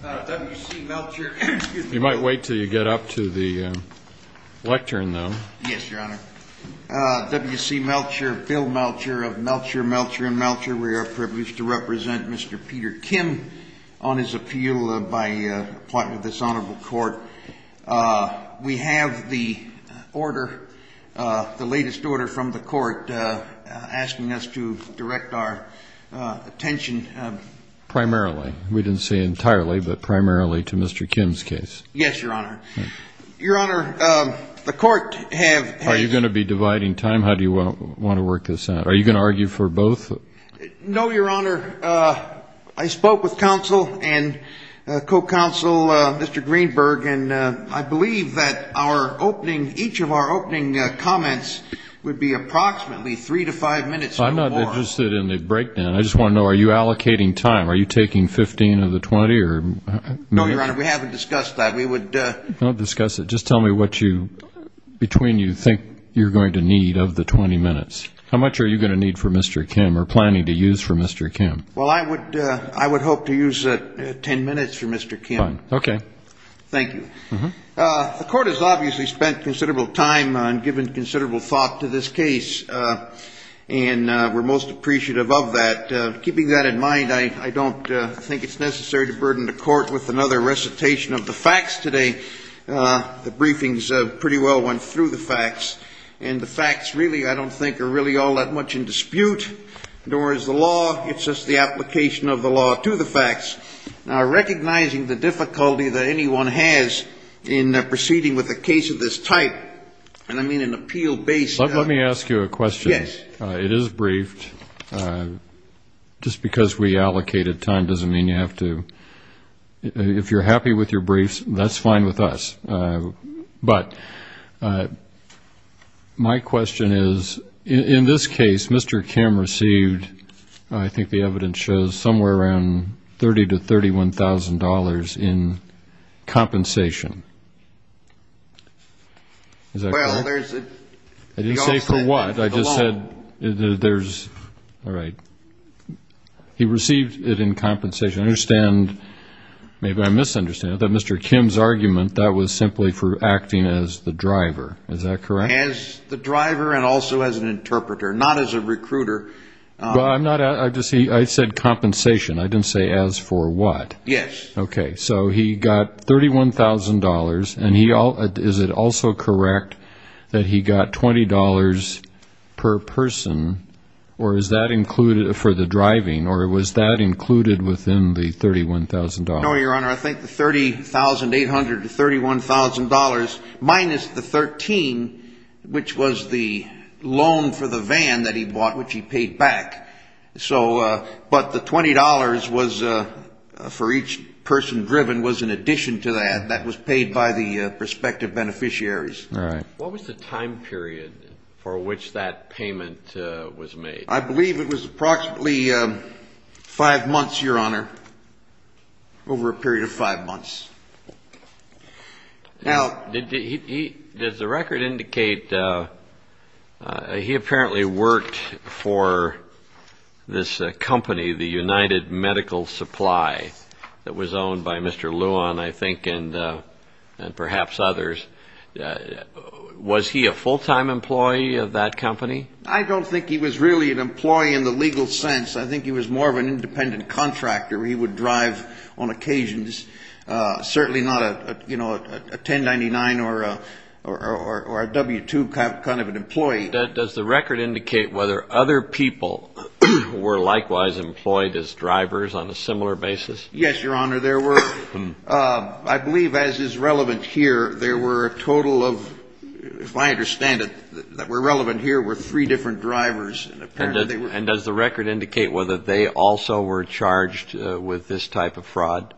W.C. Melcher of Melcher, Melcher, and Melcher. We are privileged to represent Mr. Peter Kim on his appeal by appointment of this Honorable Court. We have the order, the latest order from the court asking us to direct our attention primarily, we didn't say entirely, but primarily to Mr. Kim's case. Yes, Your Honor. Your Honor, the court have... Are you going to be dividing time? How do you want to work this out? Are you going to argue for both? No, Your Honor. I spoke with counsel and co-counsel, Mr. Greenberg, and I believe that our opening, each of our opening comments would be approximately three to five minutes or more. I'm not interested in the breakdown. I just want to know, are you allocating time? Are you taking 15 of the 20? No, Your Honor, we haven't discussed that. We would... Don't discuss it. Just tell me what you, between you think you're going to need of the 20 minutes. How much are you going to need for Mr. Kim or planning to use for Mr. Kim? Well, I would hope to use 10 minutes for Mr. Kim. Okay. Thank you. The court has obviously spent considerable time on giving considerable thought to this case, and we're most appreciative of that. And keeping that in mind, I don't think it's necessary to burden the court with another recitation of the facts today. The briefings pretty well went through the facts, and the facts really, I don't think, are really all that much in dispute, nor is the law. It's just the application of the law to the facts. Now, recognizing the difficulty that anyone has in proceeding with a case of this type, and I mean an appeal-based... Just because we allocated time doesn't mean you have to... If you're happy with your briefs, that's fine with us. But my question is, in this case, Mr. Kim received, I think the evidence shows, somewhere around $30,000 to $31,000 in compensation. Is that correct? Well, there's... I didn't say for what. I just said there's... All right. He received it in compensation. I understand, maybe I misunderstand it, that Mr. Kim's argument, that was simply for acting as the driver. Is that correct? As the driver and also as an interpreter, not as a recruiter. Well, I'm not... I just said compensation. I didn't say as for what. Yes. Okay. So he got $31,000, and is it also correct that he got $20 per person for the driving, or was that included within the $31,000? No, Your Honor. I think the $30,800 to $31,000 minus the $13,000, which was the loan for the van that he bought, which he paid back. But the $20 for each person driven was in addition to that. That was paid by the prospective beneficiaries. All right. What was the time period for which that payment was made? I believe it was approximately five months, Your Honor, over a period of five months. Now, does the record indicate he apparently worked for this company, the United Medical Supply, that was owned by Mr. Luan, I think, and perhaps others. Was he a full-time employee of that company? I don't think he was really an employee in the legal sense. I think he was more of an independent contractor. He would drive on occasions, certainly not a 1099 or a W-2 kind of an employee. Does the record indicate whether other people were likewise employed as drivers on a similar basis? Yes, Your Honor. There were, I believe as is relevant here, there were a total of, if I understand it, that were relevant here were three different drivers. And does the record indicate whether they also were charged with this type of fraud?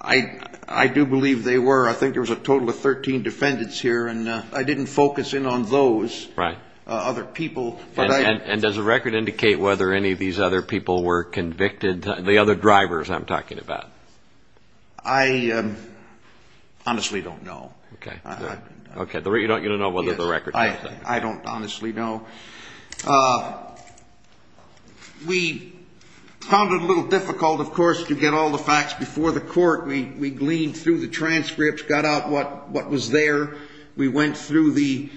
I do believe they were. I think there was a total of 13 defendants here, and I didn't focus in on those other people. And does the record indicate whether any of these other people were convicted, the other drivers I'm talking about? I honestly don't know. Okay. You don't know whether the record tells that? I don't honestly know. We found it a little difficult, of course, to get all the facts before the court. We gleaned through the transcripts, got out what was there. We went through the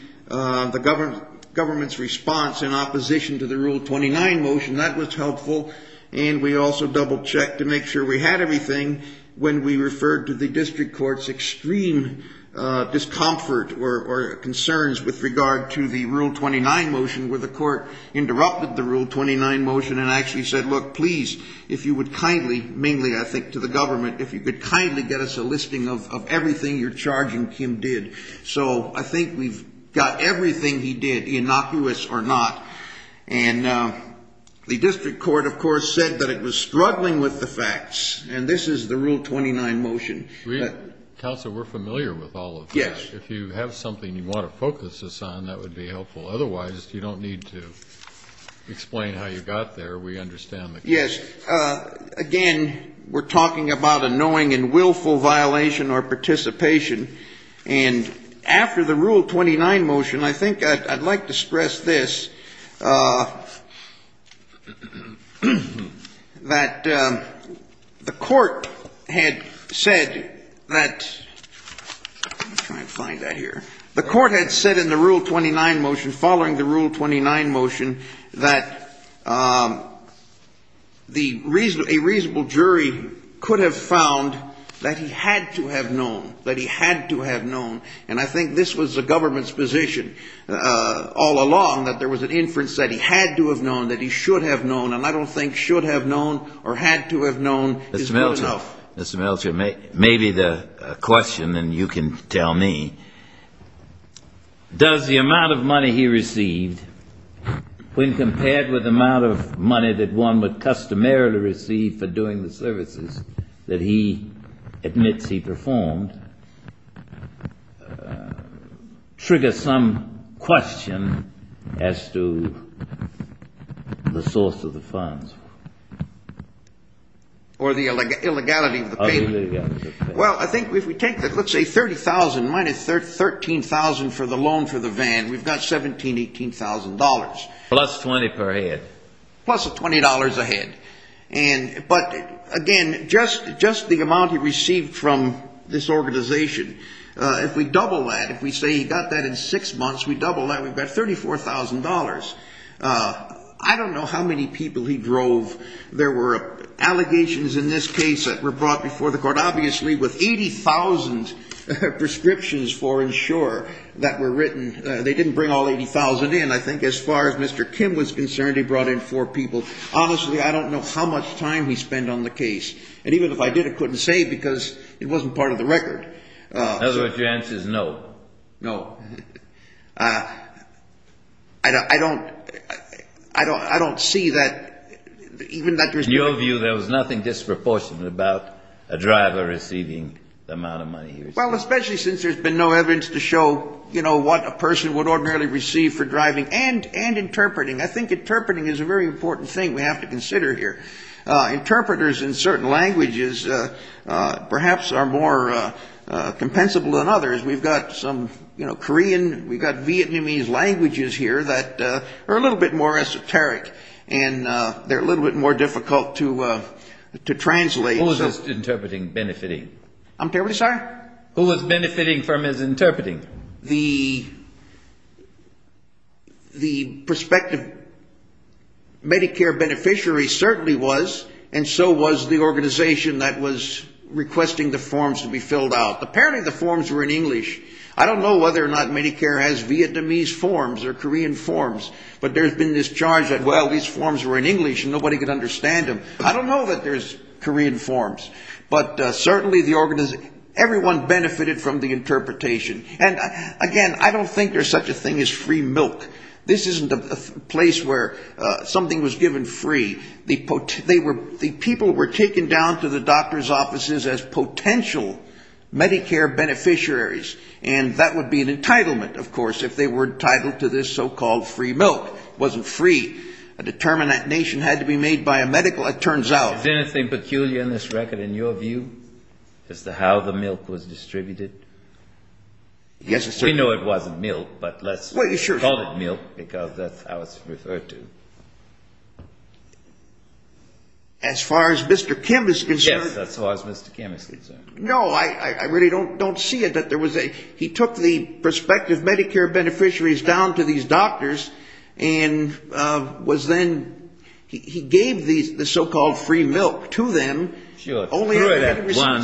government's response in opposition to the Rule 29 motion. That was helpful. And we also double-checked to make sure we had everything when we referred to the district court's extreme discomfort or concerns with regard to the Rule 29 motion, where the court interrupted the Rule 29 motion and actually said, look, please, if you would kindly, mainly, I think, to the government, if you could kindly get us a listing of everything you're charging Kim did. So I think we've got everything he did, innocuous or not. And the district court, of course, said that it was struggling with the facts. And this is the Rule 29 motion. Counsel, we're familiar with all of that. If you have something you want to focus us on, that would be helpful. Otherwise, you don't need to explain how you got there. We understand the case. Yes. Again, we're talking about a knowing and willful violation or participation. And after the Rule 29 motion, I think I'd like to stress this, that the court had said that the court had said in the Rule 29 motion, following the Rule 29 motion, that a reasonable jury could have found that he had to have known, that he had to have known. And I think this was the government's position all along, that there was an inference that he had to have known, that he should have known. And I don't think should have known or had to have known is good enough. Mr. Melcher, maybe the question, and you can tell me. Does the amount of money he received, when compared with the amount of money that one would customarily receive for doing the services that he admits he performed, trigger some question as to the source of the funds? Or the illegality of the payment? Or the illegality of the payment. Well, I think if we take, let's say, $30,000 minus $13,000 for the loan for the van, we've got $17,000, $18,000. Plus $20 per head. Plus $20 a head. But, again, just the amount he received from this organization, if we double that, if we say he got that in six months, we double that, we've got $34,000. I don't know how many people he drove. There were allegations in this case that were brought before the court, obviously, with 80,000 prescriptions for insure that were written. They didn't bring all 80,000 in. I think as far as Mr. Kim was concerned, he brought in four people. Honestly, I don't know how much time he spent on the case. And even if I did, I couldn't say because it wasn't part of the record. In other words, your answer is no. No. I don't see that. In your view, there was nothing disproportionate about a driver receiving the amount of money he received. Well, especially since there's been no evidence to show, you know, what a person would ordinarily receive for driving and interpreting. I think interpreting is a very important thing we have to consider here. Interpreters in certain languages perhaps are more compensable than others. We've got some, you know, Korean, we've got Vietnamese languages here that are a little bit more esoteric, and they're a little bit more difficult to translate. Who is this interpreting benefiting? I'm terribly sorry? Who is benefiting from his interpreting? The prospective Medicare beneficiary certainly was, and so was the organization that was requesting the forms to be filled out. Apparently the forms were in English. I don't know whether or not Medicare has Vietnamese forms or Korean forms, but there's been this charge that, well, these forms were in English and nobody could understand them. I don't know that there's Korean forms. But certainly the organization, everyone benefited from the interpretation. And, again, I don't think there's such a thing as free milk. This isn't a place where something was given free. The people were taken down to the doctor's offices as potential Medicare beneficiaries, and that would be an entitlement, of course, if they were entitled to this so-called free milk. It wasn't free. A determinate nation had to be made by a medical, it turns out. Is there anything peculiar in this record in your view as to how the milk was distributed? We know it wasn't milk, but let's call it milk because that's how it's referred to. As far as Mr. Kim is concerned? Yes, as far as Mr. Kim is concerned. No, I really don't see it. He took the prospective Medicare beneficiaries down to these doctors and was then, he gave the so-called free milk to them. Sure, threw it at one,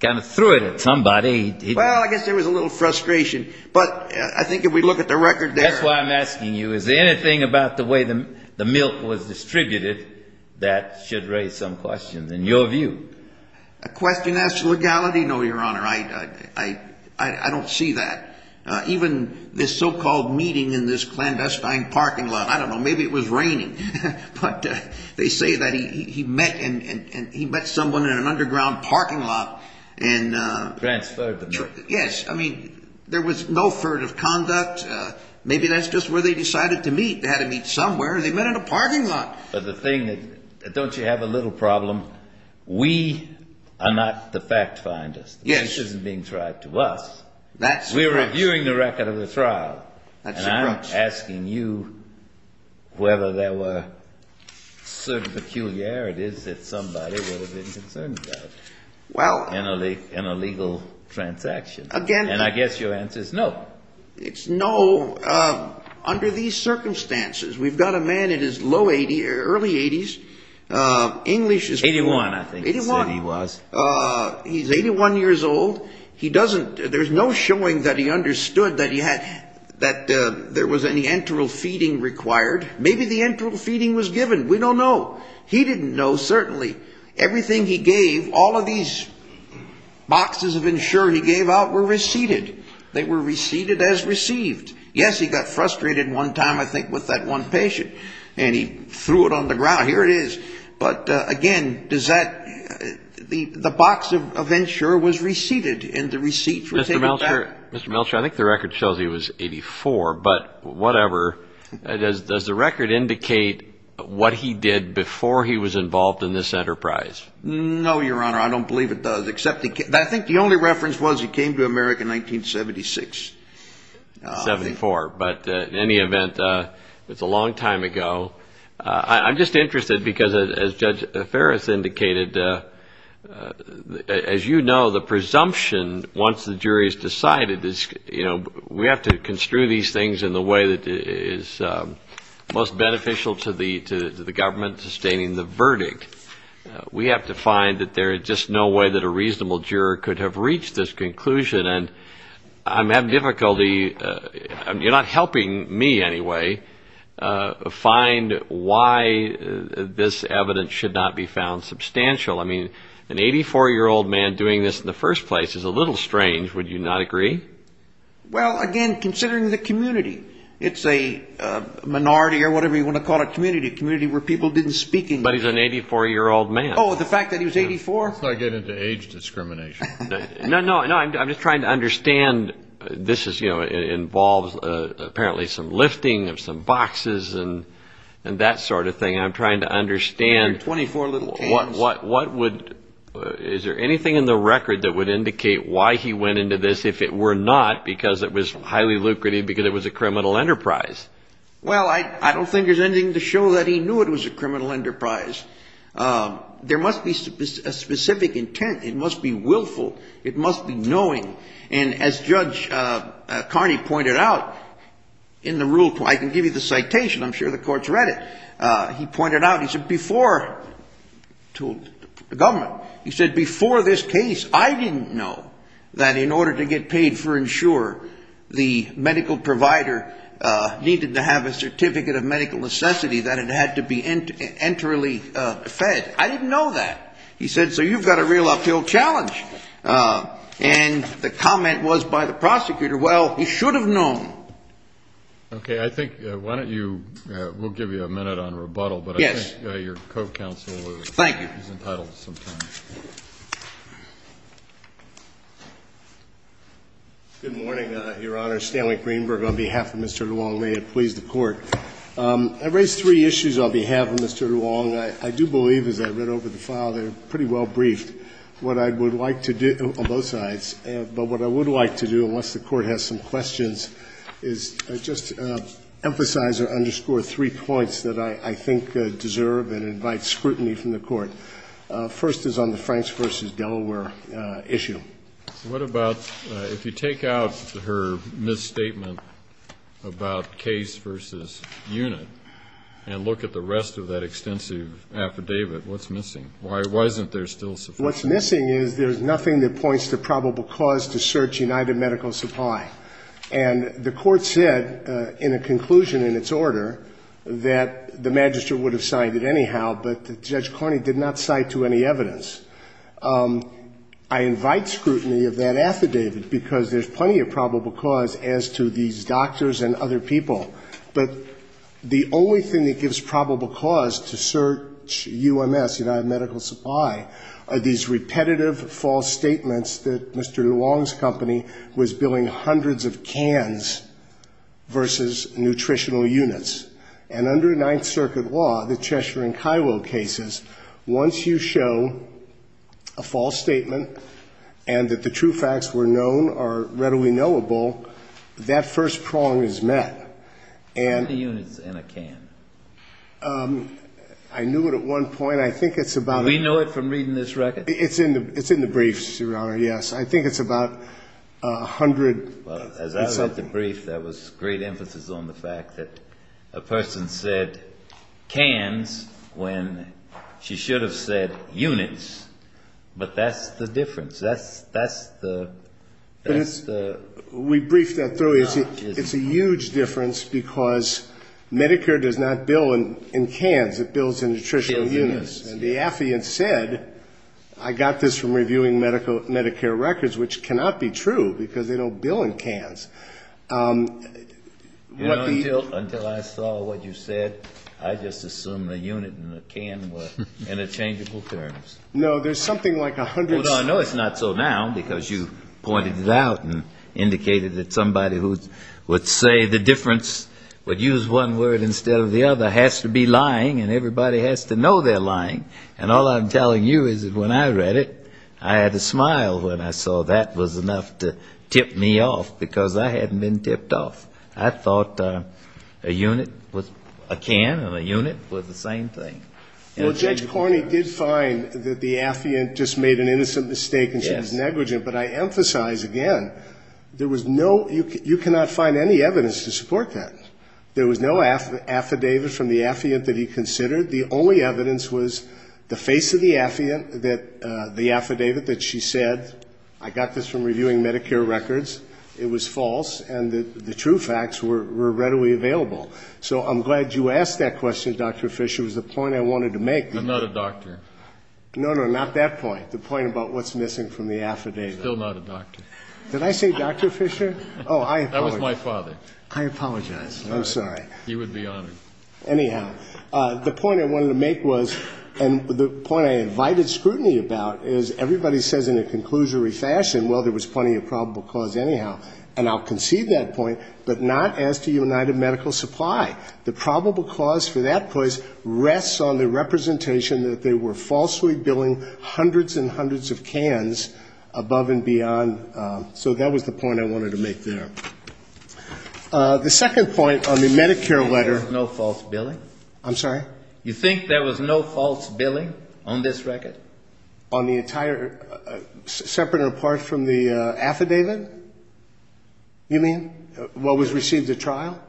kind of threw it at somebody. Well, I guess there was a little frustration. But I think if we look at the record there. That's why I'm asking you, is there anything about the way the milk was distributed that should raise some questions in your view? A question as to legality? No, Your Honor. I don't see that. Even this so-called meeting in this clandestine parking lot. I don't know. Maybe it was raining. But they say that he met someone in an underground parking lot. Transferred the milk. Yes. I mean, there was no furtive conduct. Maybe that's just where they decided to meet. They had to meet somewhere. They met in a parking lot. But the thing, don't you have a little problem? We are not the fact finders. Yes. This isn't being tried to us. That's correct. We're reviewing the record of the trial. That's correct. And I'm asking you whether there were certain peculiarities that somebody would have been concerned about in a legal transaction. Again. And I guess your answer is no. It's no. Under these circumstances, we've got a man in his low 80s, early 80s. 81, I think he said he was. He's 81 years old. There's no showing that he understood that there was any enteral feeding required. Maybe the enteral feeding was given. We don't know. He didn't know, certainly. Everything he gave, all of these boxes of insurance he gave out were receipted. They were receipted as received. Yes, he got frustrated one time, I think, with that one patient. And he threw it on the ground. Here it is. But, again, the box of insurance was receipted and the receipts were taken back. Mr. Melcher, I think the record shows he was 84, but whatever. Does the record indicate what he did before he was involved in this enterprise? No, Your Honor. I don't believe it does. I think the only reference was he came to America in 1976. 74, but in any event, it's a long time ago. I'm just interested because, as Judge Ferris indicated, as you know, the presumption, once the jury has decided, we have to construe these things in the way that is most beneficial to the government, sustaining the verdict. We have to find that there is just no way that a reasonable juror could have reached this conclusion. And I'm having difficulty, you're not helping me anyway, find why this evidence should not be found substantial. I mean, an 84-year-old man doing this in the first place is a little strange. Would you not agree? Well, again, considering the community, it's a minority or whatever you want to call it, a community, a community where people didn't speak English. But he's an 84-year-old man. Oh, the fact that he was 84? Let's not get into age discrimination. No, no, I'm just trying to understand. This involves apparently some lifting of some boxes and that sort of thing. I'm trying to understand what would – is there anything in the record that would indicate why he went into this if it were not because it was highly lucrative, because it was a criminal enterprise? Well, I don't think there's anything to show that he knew it was a criminal enterprise. There must be a specific intent. It must be willful. It must be knowing. And as Judge Carney pointed out in the rule, I can give you the citation. I'm sure the court's read it. He pointed out, he said before, told the government, he said, before this case I didn't know that in order to get paid for insure, the medical provider needed to have a certificate of medical necessity that it had to be enterally fed. I didn't know that. He said, so you've got a real uphill challenge. And the comment was by the prosecutor, well, he should have known. Okay. I think why don't you – we'll give you a minute on rebuttal. But I think your co-counsel is entitled to some time. Thank you. Good morning, Your Honor. Stanley Greenberg on behalf of Mr. DeWong. May it please the Court. I raised three issues on behalf of Mr. DeWong. I do believe, as I read over the file, they're pretty well briefed. What I would like to do on both sides, but what I would like to do, unless the Court has some questions, is just emphasize or underscore three points that I think deserve and invite scrutiny from the Court. First is on the Franks v. Delaware issue. What about if you take out her misstatement about case v. unit and look at the rest of that extensive affidavit, what's missing? Why isn't there still sufficient? What's missing is there's nothing that points to probable cause to search United Medical Supply. And the Court said in a conclusion in its order that the Magistrate would have signed it anyhow, but Judge Cornyn did not cite to any evidence. I invite scrutiny of that affidavit because there's plenty of probable cause as to these doctors and other people. But the only thing that gives probable cause to search UMS, United Medical Supply, are these repetitive false statements that Mr. DeWong's company was billing hundreds of cans versus nutritional units. And under Ninth Circuit law, the Cheshire and Kiowa cases, once you show a false statement and that the true facts were known or readily knowable, that first prong is met. And the units in a can. I knew it at one point. I think it's about. Do we know it from reading this record? It's in the briefs, Your Honor, yes. I think it's about a hundred. Well, as I read the brief, there was great emphasis on the fact that a person said cans when she should have said units. But that's the difference. That's the... We briefed that through. It's a huge difference because Medicare does not bill in cans. It bills in nutritional units. And the affiant said, I got this from reviewing Medicare records, which cannot be true because they don't bill in cans. Until I saw what you said, I just assumed a unit and a can were interchangeable terms. No, there's something like a hundred. I know it's not so now because you pointed it out and indicated that somebody who would say the difference, would use one word instead of the other, has to be lying and everybody has to know they're lying. And all I'm telling you is that when I read it, I had a smile when I saw that was enough to tip me off because I hadn't been tipped off. I thought a unit was a can and a unit was the same thing. Well, Judge Cornyn did find that the affiant just made an innocent mistake and she was negligent. But I emphasize again, there was no, you cannot find any evidence to support that. There was no affidavit from the affiant that he considered. The only evidence was the face of the affiant, the affidavit that she said, I got this from reviewing Medicare records. It was false. And the true facts were readily available. So I'm glad you asked that question, Dr. Fisher. It was the point I wanted to make. I'm not a doctor. No, no, not that point. The point about what's missing from the affidavit. Still not a doctor. Did I say Dr. Fisher? Oh, I apologize. That was my father. I apologize. I'm sorry. He would be honored. Anyhow. The point I wanted to make was, and the point I invited scrutiny about, is everybody says in a conclusory fashion, well, there was plenty of probable cause anyhow. And I'll concede that point, but not as to United Medical Supply. The probable cause for that place rests on the representation that they were falsely billing hundreds and hundreds of cans above and beyond. So that was the point I wanted to make there. The second point on the Medicare letter. There was no false billing? I'm sorry? You think there was no false billing on this record? On the entire, separate and apart from the affidavit? You mean what was received at trial?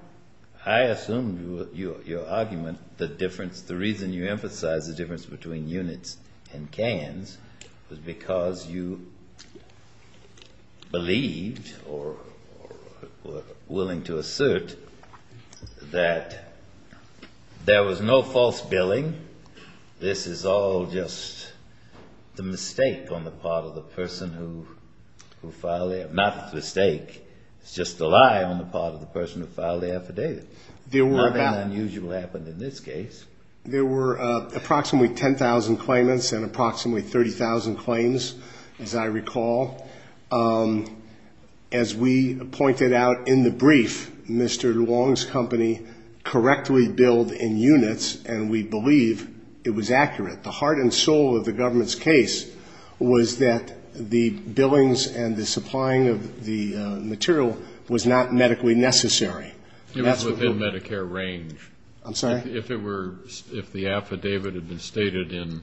I assumed your argument, the difference, the reason you emphasized the difference between units and cans was because you believed or were willing to assert that there was no false billing. This is all just the mistake on the part of the person who filed it. Not the mistake, it's just the lie on the part of the person who filed the affidavit. Nothing unusual happened in this case. There were approximately 10,000 claimants and approximately 30,000 claims, as I recall. As we pointed out in the brief, Mr. Long's company correctly billed in units, and we believe it was accurate. The heart and soul of the government's case was that the billings and the supplying of the material was not medically necessary. It was within Medicare range. I'm sorry? If it were, if the affidavit had been stated in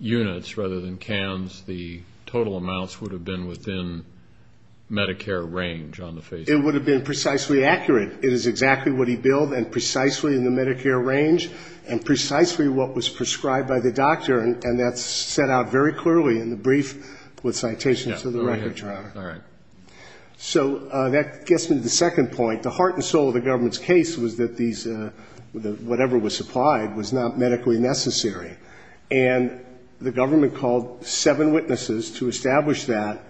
units rather than cans, the total amounts would have been within Medicare range on the face of it. It would have been precisely accurate. It is exactly what he billed and precisely in the Medicare range and precisely what was prescribed by the doctor, and that's set out very clearly in the brief with citations to the record, Your Honor. So that gets me to the second point. The heart and soul of the government's case was that whatever was supplied was not medically necessary. And the government called seven witnesses to establish that,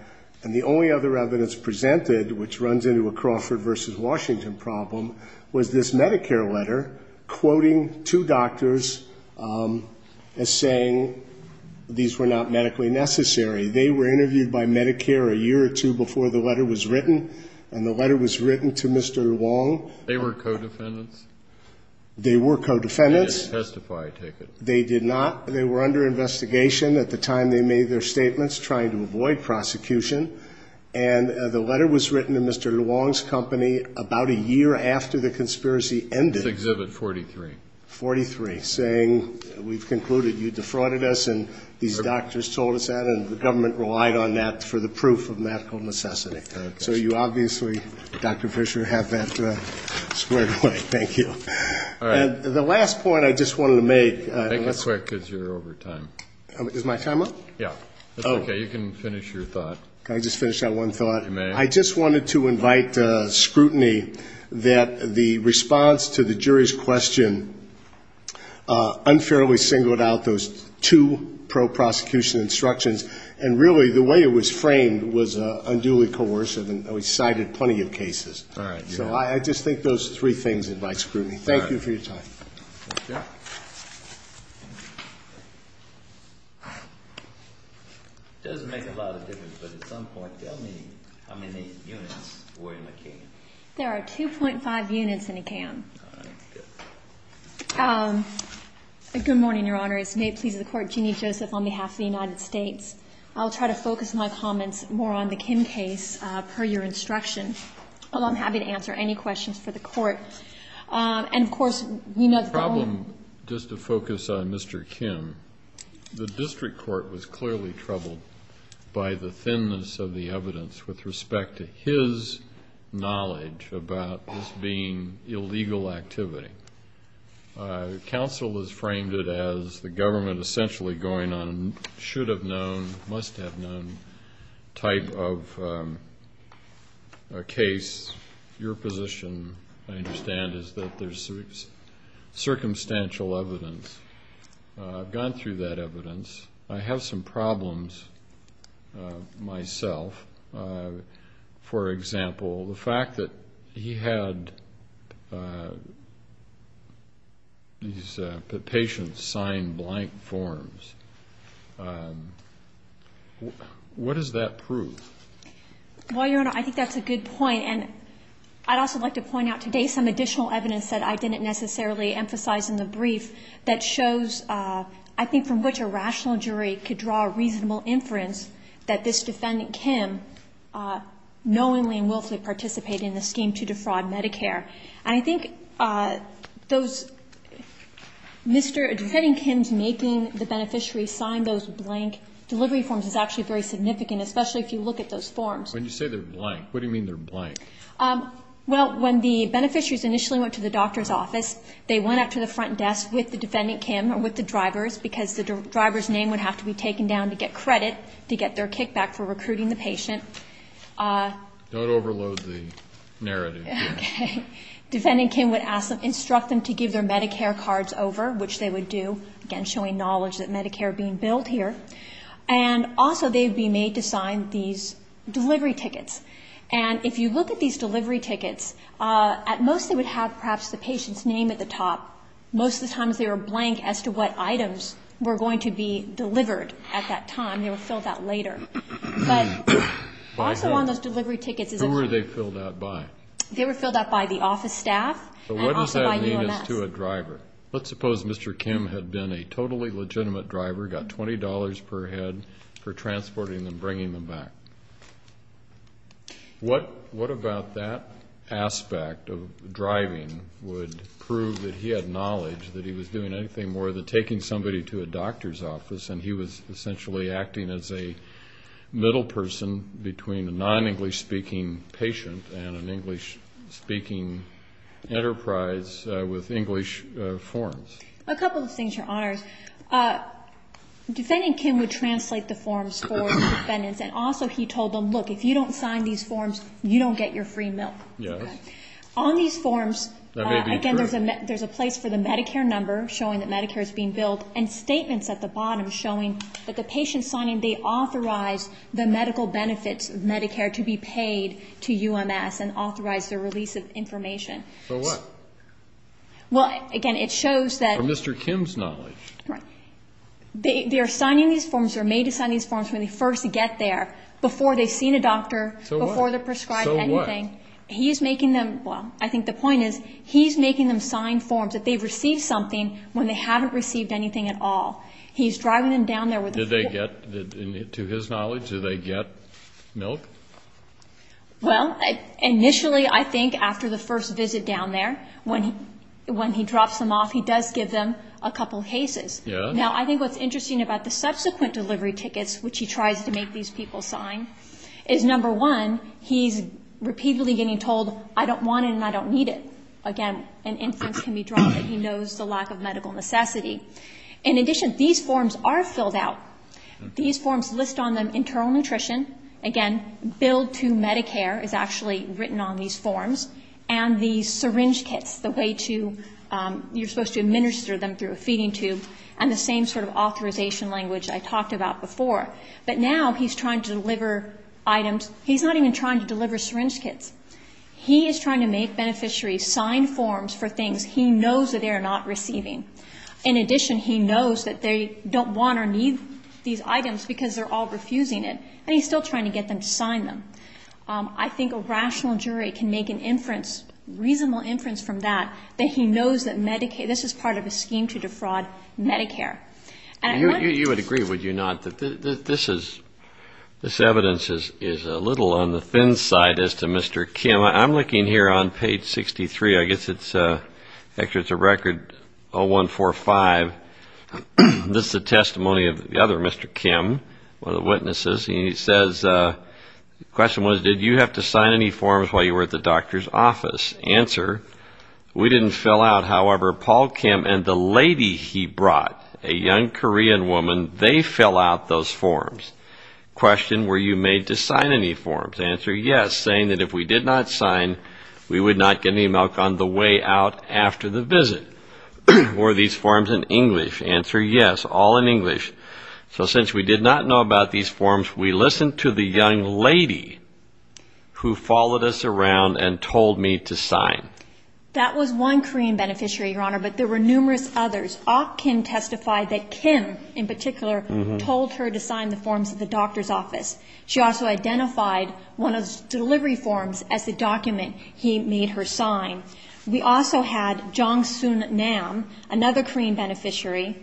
and the only other evidence presented, which runs into a Crawford v. Washington problem, was this Medicare letter quoting two doctors as saying these were not medically necessary. They were interviewed by Medicare a year or two before the letter was written, and the letter was written to Mr. Long. They were co-defendants? They were co-defendants. They did not. They were under investigation at the time they made their statements trying to avoid prosecution, and the letter was written to Mr. Long's company about a year after the conspiracy ended. Exhibit 43. 43, saying we've concluded you defrauded us and these doctors told us that, and the government relied on that for the proof of medical necessity. So you obviously, Dr. Fisher, have that squared away. Thank you. And the last point I just wanted to make. I just wanted to invite scrutiny that the response to the jury's question unfairly singled out those two pro-prosecution instructions, and really the way it was framed was unduly coercive, and we cited plenty of cases. So I just think those three things invite scrutiny. Thank you for your time. It doesn't make a lot of difference, but at some point, tell me how many units were in the can. There are 2.5 units in a can. Good morning, Your Honors. May it please the Court, Jeannie Joseph on behalf of the United States. I'll try to focus my comments more on the Kim case per your instruction. I'm happy to answer any questions for the Court. The problem, just to focus on Mr. Kim, the district court was clearly troubled by the thinness of the evidence with respect to his knowledge about this being illegal activity. Counsel has framed it as the government essentially going on a should-have-known, must-have-known type of case. Your position, I understand, is that there's circumstantial evidence. I've gone through that evidence. I have some problems myself. For example, the fact that he had these patients sign blank forms. What does that prove? Well, Your Honor, I think that's a good point, and I'd also like to point out today some additional evidence that I didn't necessarily emphasize in the brief that shows, I think, from which a rational jury could draw a reasonable inference that this defendant, Kim, knowingly and willfully participated in the scheme to defraud Medicare. And I think Mr. Kim's making the beneficiary sign those blank delivery forms is actually very significant, especially if you look at those forms. When you say they're blank, what do you mean they're blank? Well, when the beneficiaries initially went to the doctor's office, they went up to the front desk with the defendant, Kim, or with the drivers, because the driver's name would have to be taken down to get credit to get their kickback for recruiting the patient. Don't overload the narrative here. Okay. Defendant Kim would instruct them to give their Medicare cards over, which they would do, again, showing knowledge that Medicare being billed here. And if you look at these delivery tickets, at most they would have perhaps the patient's name at the top. Most of the times they were blank as to what items were going to be delivered at that time. They were filled out later. But also on those delivery tickets is a... Who were they filled out by? They were filled out by the office staff and also by UMS. But what does that mean as to a driver? Let's suppose Mr. Kim had been a totally legitimate driver, got $20 per head for transporting them, bringing them back. What about that aspect of driving would prove that he had knowledge that he was doing anything more than taking somebody to a doctor's office and he was essentially acting as a middle person between a non-English-speaking patient and an English-speaking patient? So he was essentially a non-English-speaking enterprise with English forms. A couple of things, Your Honors. Defendant Kim would translate the forms for the defendants and also he told them, look, if you don't sign these forms, you don't get your free milk. Yes. On these forms, again, there's a place for the Medicare number showing that Medicare is being billed and statements at the bottom showing that the patient's signing, they authorize the medical benefits of Medicare to be paid to UMS and authorize their release of information. So what? Well, again, it shows that they're signing these forms, they're made to sign these forms when they first get there, before they've seen a doctor, before they're prescribed anything. So what? I think the point is he's making them sign forms that they've received something when they haven't received anything at all. He's driving them down there with the form. Did they get, to his knowledge, did they get milk? Well, initially, I think after the first visit down there, when he drops them off, he does give them a couple of cases. Yes. Now, I think what's interesting about the subsequent delivery tickets, which he tries to make these people sign, is, number one, he's repeatedly getting told, I don't want it and I don't need it. Again, an instance can be drawn that he knows the lack of medical necessity. In addition, these forms are filled out. These forms list on them internal nutrition. Again, bill to Medicare is actually written on these forms. And these syringe kits, the way to, you're supposed to administer them through a feeding tube, and the same sort of authorization language I talked about before. But now he's trying to deliver items. He's not even trying to deliver syringe kits. He is trying to make beneficiaries sign forms for things he knows that they are not receiving. And he's still trying to get them to sign them. I think a rational jury can make an inference, reasonable inference from that, that he knows that this is part of a scheme to defraud Medicare. You would agree, would you not, that this evidence is a little on the thin side as to Mr. Kim. I'm looking here on page 63. I guess it's a record 0145. This is a testimony of the other Mr. Kim, one of the witnesses. He says, the question was, did you have to sign any forms while you were at the doctor's office? Answer, we didn't fill out. However, Paul Kim and the lady he brought, a young Korean woman, they fill out those forms. Answer, yes, saying that if we did not sign, we would not get any milk on the way out after the visit. Were these forms in English? Answer, yes, all in English. So since we did not know about these forms, we listened to the young lady who followed us around and told me to sign. That was one Korean beneficiary, Your Honor, but there were numerous others. Ah Kim testified that Kim, in particular, told her to sign the forms at the doctor's office. She also identified one of the delivery forms as the document he made her sign. We also had Jong Soon Nam, another Korean beneficiary,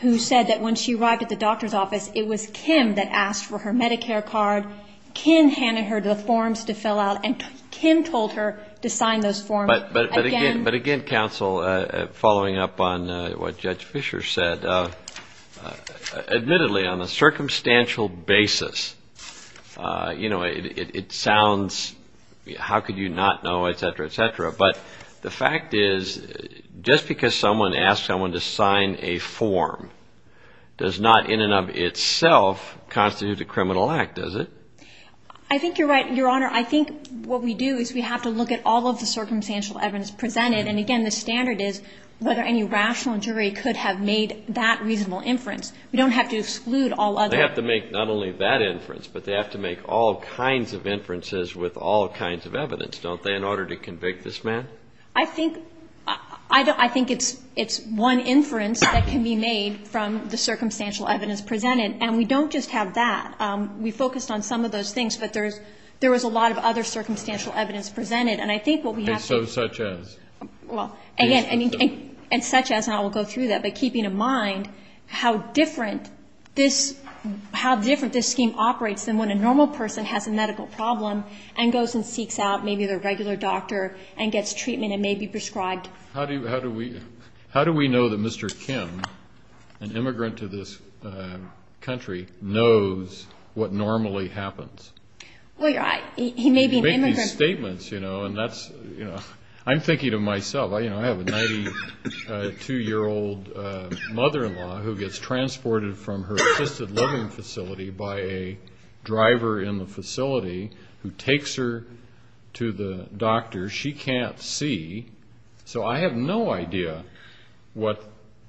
who said that when she arrived at the doctor's office, it was Kim that asked for her Medicare card. Kim handed her the forms to fill out, and Kim told her to sign those forms again. But again, counsel, following up on what Judge Fischer said, admittedly, on a circumstantial basis, it sounds, how could you not know, et cetera, et cetera. But the fact is, just because someone asks someone to sign a form does not in and of itself constitute a criminal act, does it? I think you're right, Your Honor. I think what we do is we have to look at all of the circumstantial evidence presented. And again, the standard is whether any rational jury could have made that reasonable inference. We don't have to exclude all other. They have to make not only that inference, but they have to make all kinds of inferences with all kinds of evidence, don't they, in order to convict this man? I think it's one inference that can be made from the circumstantial evidence presented. And we don't just have that. We focused on some of those things, but there was a lot of other circumstantial evidence presented. And I think what we have to do is to look at how different this scheme operates than when a normal person has a medical problem and goes and seeks out maybe their regular doctor and gets treatment and may be prescribed. How do we know that Mr. Kim, an immigrant to this country, knows what normally happens? Well, Your Honor, he may be an immigrant. You make these statements, you know, and that's, you know, I'm thinking of myself. I have a 92-year-old mother-in-law who gets transported from her assisted living facility by a driver in the facility who takes her to the doctor and she can't see, so I have no idea what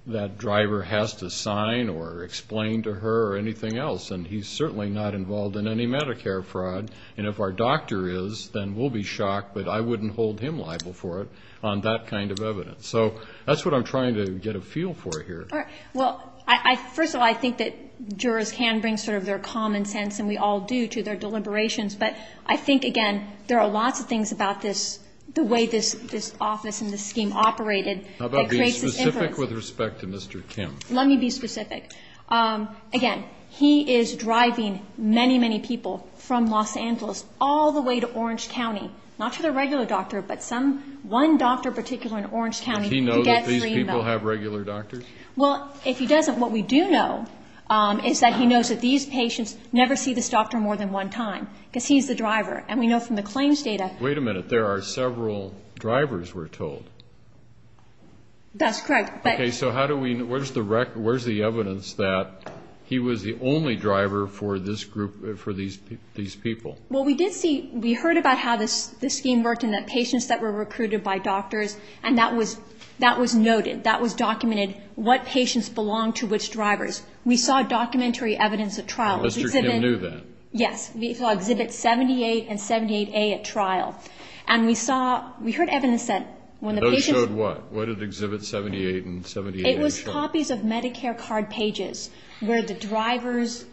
that driver has to sign or explain to her or anything else. And he's certainly not involved in any Medicare fraud. And if our doctor is, then we'll be shocked, but I wouldn't hold him liable for it on that kind of evidence. So that's what I'm trying to get a feel for here. Well, first of all, I think that jurors can bring sort of their common sense, and we all do, to their deliberations. But I think, again, there are lots of things about this, the way this office and this scheme operated that creates this inference. How about being specific with respect to Mr. Kim? Let me be specific. Again, he is driving many, many people from Los Angeles all the way to Orange County, not to their regular doctor, but some one doctor in particular in Orange County. Does he know that these people have regular doctors? Well, if he doesn't, what we do know is that he knows that these patients never see this doctor more than one time, because he's the driver. And we know from the claims data. Wait a minute. There are several drivers, we're told. That's correct. Okay. So where's the evidence that he was the only driver for this group, for these people? Well, we did see, we heard about how this scheme worked and that patients that were recruited by doctors, and that was noted, that was documented, what patients belonged to which drivers. We saw documentary evidence at trial. Mr. Kim knew that? Yes. We saw Exhibit 78 and 78A at trial. And we saw, we heard evidence that when the patients... Those showed what? What did Exhibit 78 and 78A show? It was copies of Medicare card pages where the drivers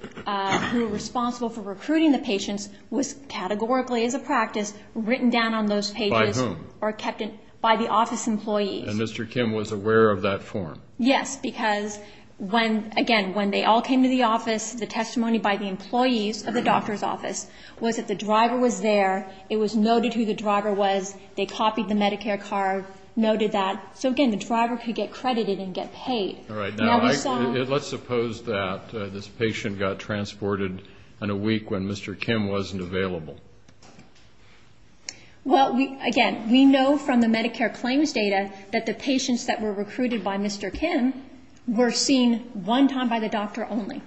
who were responsible for recruiting the patients was categorically as a practice written down on those pages. By whom? By the office employees. And Mr. Kim was aware of that form? Yes, because when, again, when they all came to the office, the testimony by the employees of the doctor's office was that the driver was there, it was noted who the driver was, they copied the Medicare card, noted that. So, again, the driver could get credited and get paid. All right. Now, let's suppose that this patient got transported in a week when Mr. Kim wasn't available. Well, again, we know from the Medicare claims data that the patients that were recruited by Mr. Kim were seen one time by the doctor only.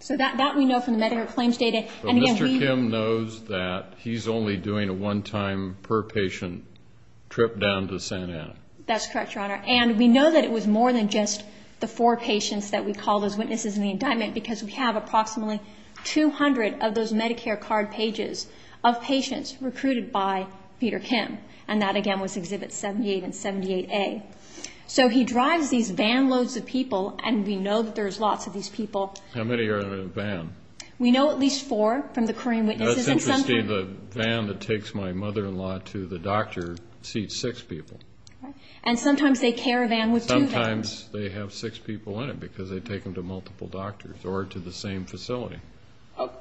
So that we know from the Medicare claims data. But Mr. Kim knows that he's only doing a one-time per patient trip down to Santa Ana. That's correct, Your Honor. And we know that it was more than just the four patients that we call those witnesses in the indictment, because we have approximately 200 of those Medicare card pages of patients recruited by Peter Kim. And that, again, was exhibit 78 and 78A. So he drives these van loads of people, and we know that there's lots of these people. How many are in a van? We know at least four from the Korean witnesses. That's interesting. The van that takes my mother-in-law to the doctor seats six people. And sometimes they caravan with two vans. Sometimes they have six people in it, because they take them to multiple doctors or to the same facility.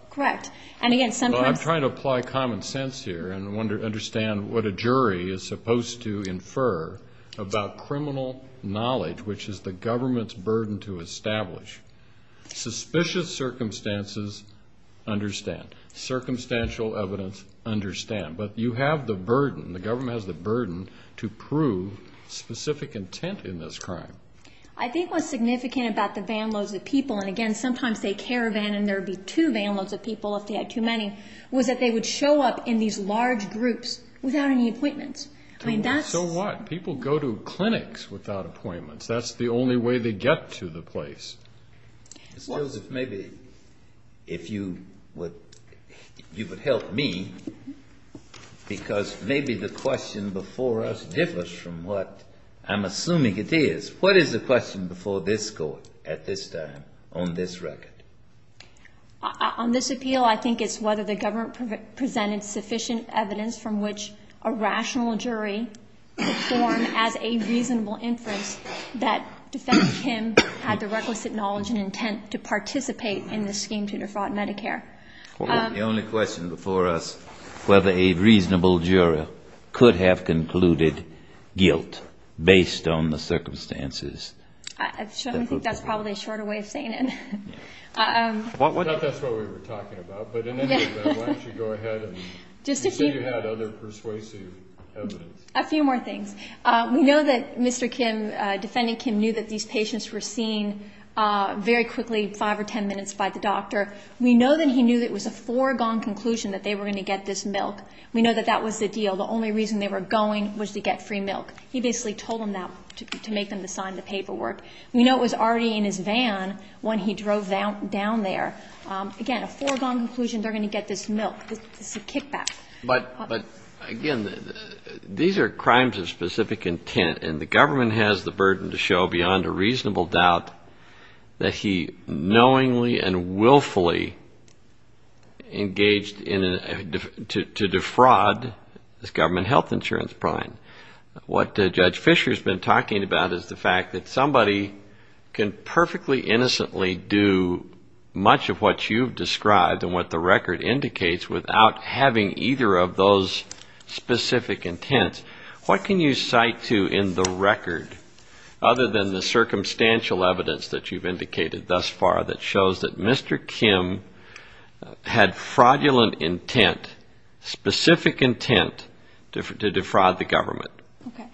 Correct. And, again, sometimes... And I want to understand what a jury is supposed to infer about criminal knowledge, which is the government's burden to establish. Suspicious circumstances, understand. Circumstantial evidence, understand. But you have the burden, the government has the burden, to prove specific intent in this crime. I think what's significant about the van loads of people, and, again, sometimes they caravan and there would be two van loads of people if they had too many, was that they would show up in these large groups without any appointments. So what? People go to clinics without appointments. That's the only way they get to the place. Mr. Joseph, maybe if you would help me, because maybe the question before us differs from what I'm assuming it is. What is the question before this Court at this time on this record? On this appeal, I think it's whether the government presented sufficient evidence from which a rational jury could form as a reasonable inference that defendant Kim had the requisite knowledge and intent to participate in this scheme to defraud Medicare. The only question before us, whether a reasonable jury could have concluded guilt based on the circumstances. I think that's probably a shorter way of saying it. I thought that's what we were talking about, but in any event, why don't you go ahead and say you had other persuasive evidence. A few more things. We know that Mr. Kim, defendant Kim, knew that these patients were seen very quickly, five or ten minutes, by the doctor. We know that he knew that it was a foregone conclusion that they were going to get this milk. We know that that was the deal. The only reason they were going was to get free milk. He basically told them that to make them sign the paperwork. We know it was already in his van when he drove down there. Again, a foregone conclusion, they're going to get this milk. This is a kickback. But, again, these are crimes of specific intent, and the government has the burden to show beyond a reasonable doubt that he knowingly and willfully engaged to defraud this government health insurance prime. What Judge Fischer has been talking about is the fact that somebody can perfectly innocently do much of what you've described and what the record indicates without having either of those specific intents. What can you cite to in the record, other than the circumstantial evidence that you've indicated thus far that shows that Mr. Kim, had fraudulent intent, specific intent to defraud the government? Okay.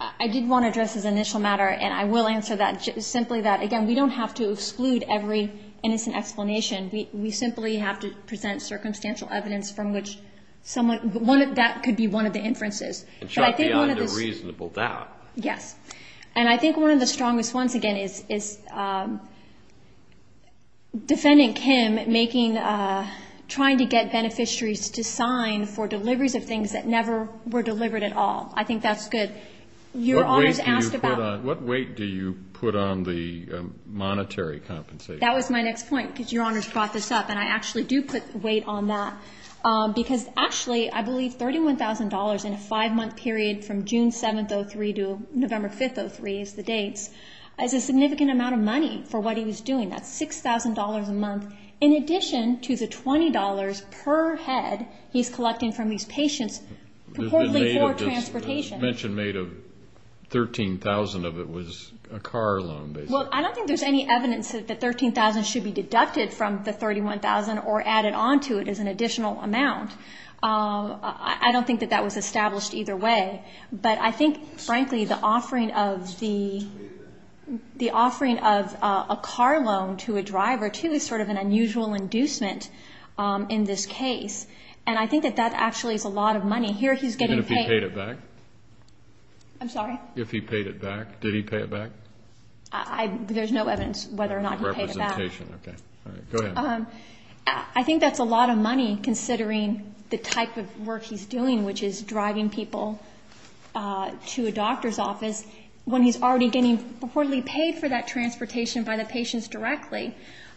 I did want to address this initial matter, and I will answer that, simply that, again, we don't have to exclude every innocent explanation. We simply have to present circumstantial evidence from which someone, that could be one of the inferences. And show beyond a reasonable doubt. Yes. And I think one of the strongest ones, again, is Defendant Kim making, trying to get beneficiaries to sign for deliveries of things that never were delivered at all. I think that's good. What weight do you put on the monetary compensation? That was my next point, because Your Honors brought this up, and I actually do put weight on that. Because, actually, I believe $31,000 in a five-month period from June 7th, 2003 to November 5th, 2003 is the dates, is a significant amount of money for what he was doing. That's $6,000 a month. In addition to the $20 per head he's collecting from these patients purportedly for transportation. The mention made of $13,000 of it was a car loan, basically. Well, I don't think there's any evidence that the $13,000 should be deducted from the $31,000 or added on to it as an additional amount. I don't think that that was established either way. But I think, frankly, the offering of a car loan to a driver, too, is sort of an unusual inducement in this case. And I think that that actually is a lot of money. Even if he paid it back? I'm sorry? If he paid it back. Did he pay it back? There's no evidence whether or not he paid it back. I think that's a lot of money, considering the type of work he's doing, which is driving people to a doctor's office, when he's already getting purportedly paid for that transportation by the patients directly.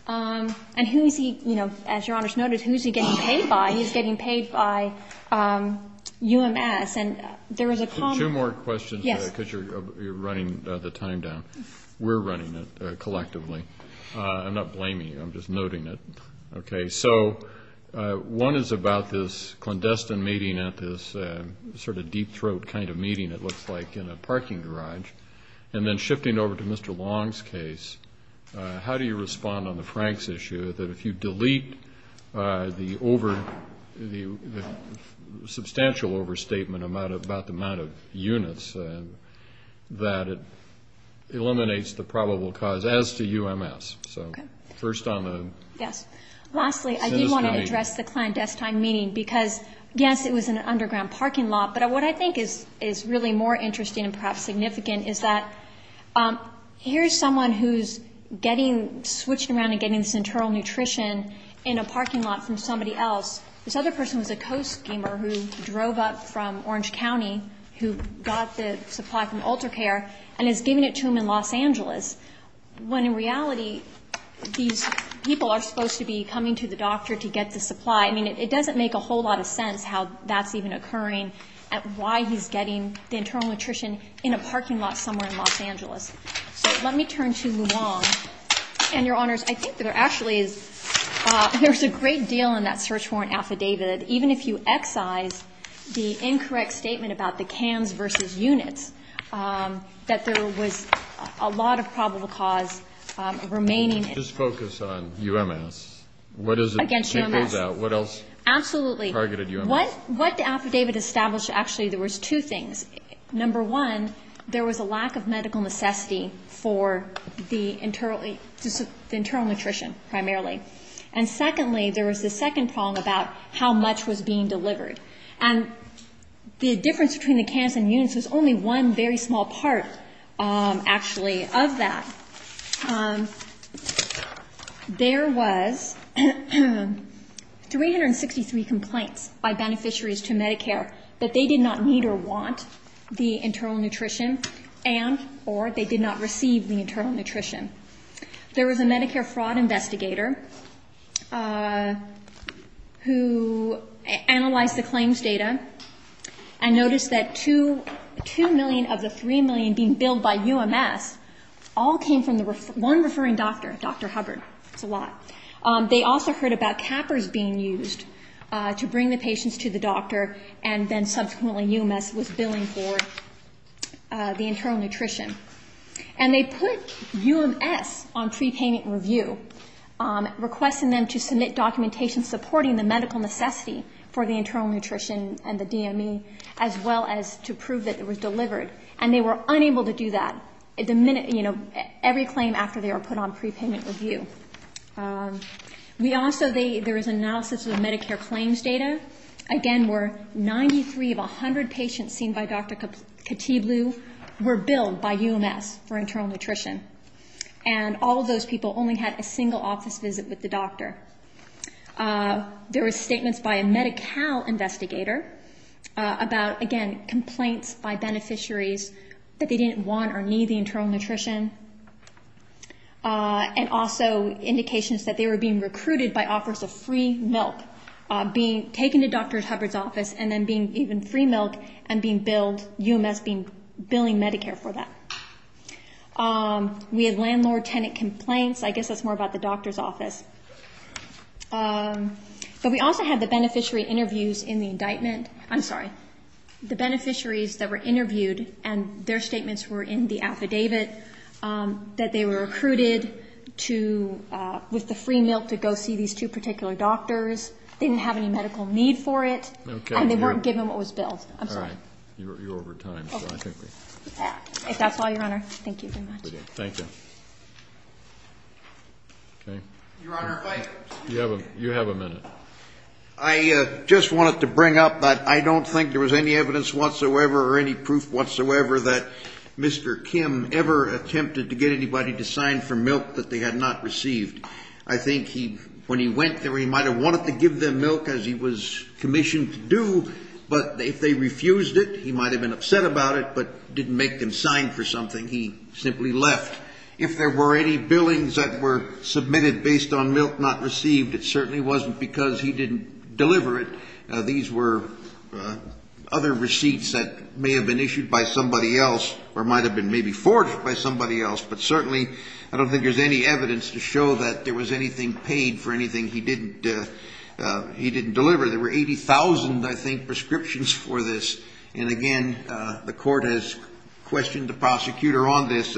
And who is he, as Your Honor's noted, who is he getting paid by? He's getting paid by UMS. Two more questions, because you're running the time down. We're running it collectively. I'm not blaming you. I'm just noting it. One is about this clandestine meeting at this sort of deep throat kind of meeting, it looks like, in a parking garage. And then shifting over to Mr. Long's case, how do you respond on the Franks issue, that if you delete the substantial overstatement about the amount of units, that it eliminates the probable cause as to UMS? Okay. Lastly, I do want to address the clandestine meeting, because, yes, it was in an underground parking lot, but what I think is really more interesting, and perhaps significant, is that here's someone who's getting switched around and getting this internal nutrition in a parking lot from somebody else. This other person was a co-schemer who drove up from Orange County, who got the supply from UltraCare, and is giving it to them in Los Angeles, when in reality, these people are supposed to be coming to the doctor to get the supply. And I think that there's a lot of evidence at why he's getting the internal nutrition in a parking lot somewhere in Los Angeles. So let me turn to Luong. And, Your Honors, I think that there actually is, there's a great deal in that search warrant affidavit, even if you excise the incorrect statement about the cans versus units, that there was a lot of probable cause remaining. Just focus on UMS. Absolutely. What the affidavit established, actually, there was two things. Number one, there was a lack of medical necessity for the internal nutrition, primarily. And secondly, there was the second problem about how much was being delivered. And the difference between the cans and units was only one very small part, actually, of that. There was 363 complaints by beneficiaries to Medicare that they did not need or want the internal nutrition, and or they did not receive the internal nutrition. There was a Medicare fraud investigator who analyzed the claims data and noticed that 2 million of the 3 million being billed by UMS all came from the one referring doctor, Dr. Hubbard. That's a lot. They also heard about cappers being used to bring the patients to the doctor, and then subsequently UMS was billing for the internal nutrition. And they put UMS on prepayment review, requesting them to submit documentation supporting the medical necessity for the internal nutrition and the DME, as well as to prove that it was delivered. And they were unable to do that, you know, every claim after they were put on prepayment review. We also, there was analysis of the Medicare claims data. Again, where 93 of 100 patients seen by Dr. Katibloo were billed by UMS for internal nutrition. And all of those people only had a single office visit with the doctor. There were statements by a Medi-Cal investigator about, again, complaints by beneficiaries that they didn't want or need the internal nutrition, and also indications that they were being recruited by offers of free milk, being taken to Dr. Hubbard's office, and then being given free milk and being billed, UMS being, billing Medicare for that. We had landlord-tenant complaints. I guess that's more about the doctor's office. But we also had the beneficiary interviews in the indictment. I'm sorry. The beneficiaries that were interviewed, and their statements were in the affidavit, that they were recruited to, with the free milk, to go see these two particular doctors. They didn't have any medical need for it, and they weren't given what was billed. I'm sorry. You're over time. If that's all, Your Honor, thank you very much. Thank you. I just wanted to bring up that I don't think there was any evidence whatsoever or any proof whatsoever that Mr. Kim ever attempted to get anybody to sign for milk that they had not received. I think when he went there, he might have wanted to give them milk, as he was commissioned to do, but if they refused it, he might have been upset about it, but didn't make them sign for something. He simply left. If there were any billings that were submitted based on milk not received, it certainly wasn't because he didn't deliver it. These were other receipts that may have been issued by somebody else or might have been maybe forged by somebody else, but certainly I don't think there's any evidence to show that there was anything paid for anything he didn't deliver. There were 80,000, I think, prescriptions for this. And again, the court has questioned the prosecutor on this.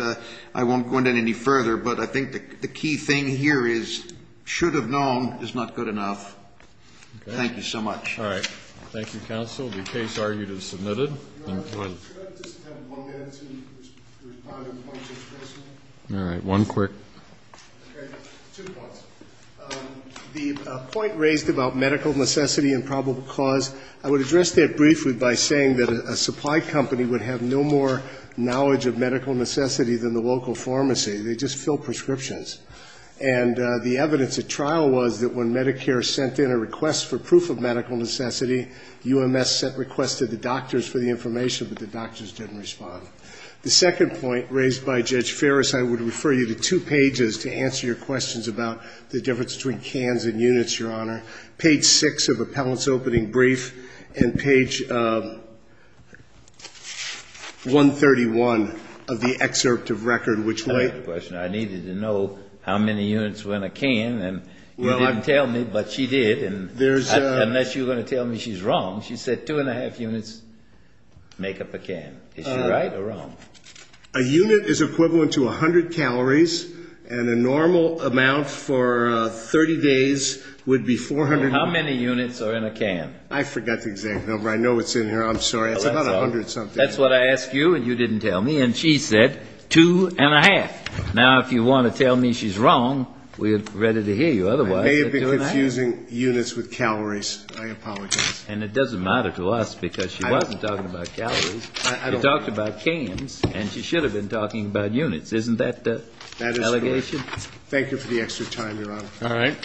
I won't go into it any further, but I think the key thing here is should have known is not good enough. Thank you so much. All right. Thank you, counsel. The case argued is submitted. All right. One quick. The point raised about medical necessity and probable cause, I would address that briefly by saying that a supply company would have no more knowledge of medical necessity than the local pharmacy. They just fill prescriptions. And the evidence at trial was that when Medicare sent in a request for proof of medical necessity, UMS sent requests to the doctors for the information. But the doctors didn't respond. The second point raised by Judge Ferris, I would refer you to two pages to answer your questions about the difference between cans and units, Your Honor. Page 6 of Appellant's opening brief and page 131 of the excerpt of record, which way? I needed to know how many units were in a can, and you didn't tell me, but she did. And unless you're going to tell me she's wrong, she said two and a half units make up a can. Is she right or wrong? A unit is equivalent to 100 calories, and a normal amount for 30 days would be 400. How many units are in a can? I forgot the exact number. I know it's in here. I'm sorry. It's about 100 something. That's what I asked you, and you didn't tell me, and she said two and a half. Now, if you want to tell me she's wrong, we are ready to hear you. Otherwise... I may have been confusing units with calories. I apologize. And it doesn't matter to us, because she wasn't talking about calories. She talked about cans, and she should have been talking about units. Isn't that the allegation? Thank you for the extra time, Your Honor. Thank you.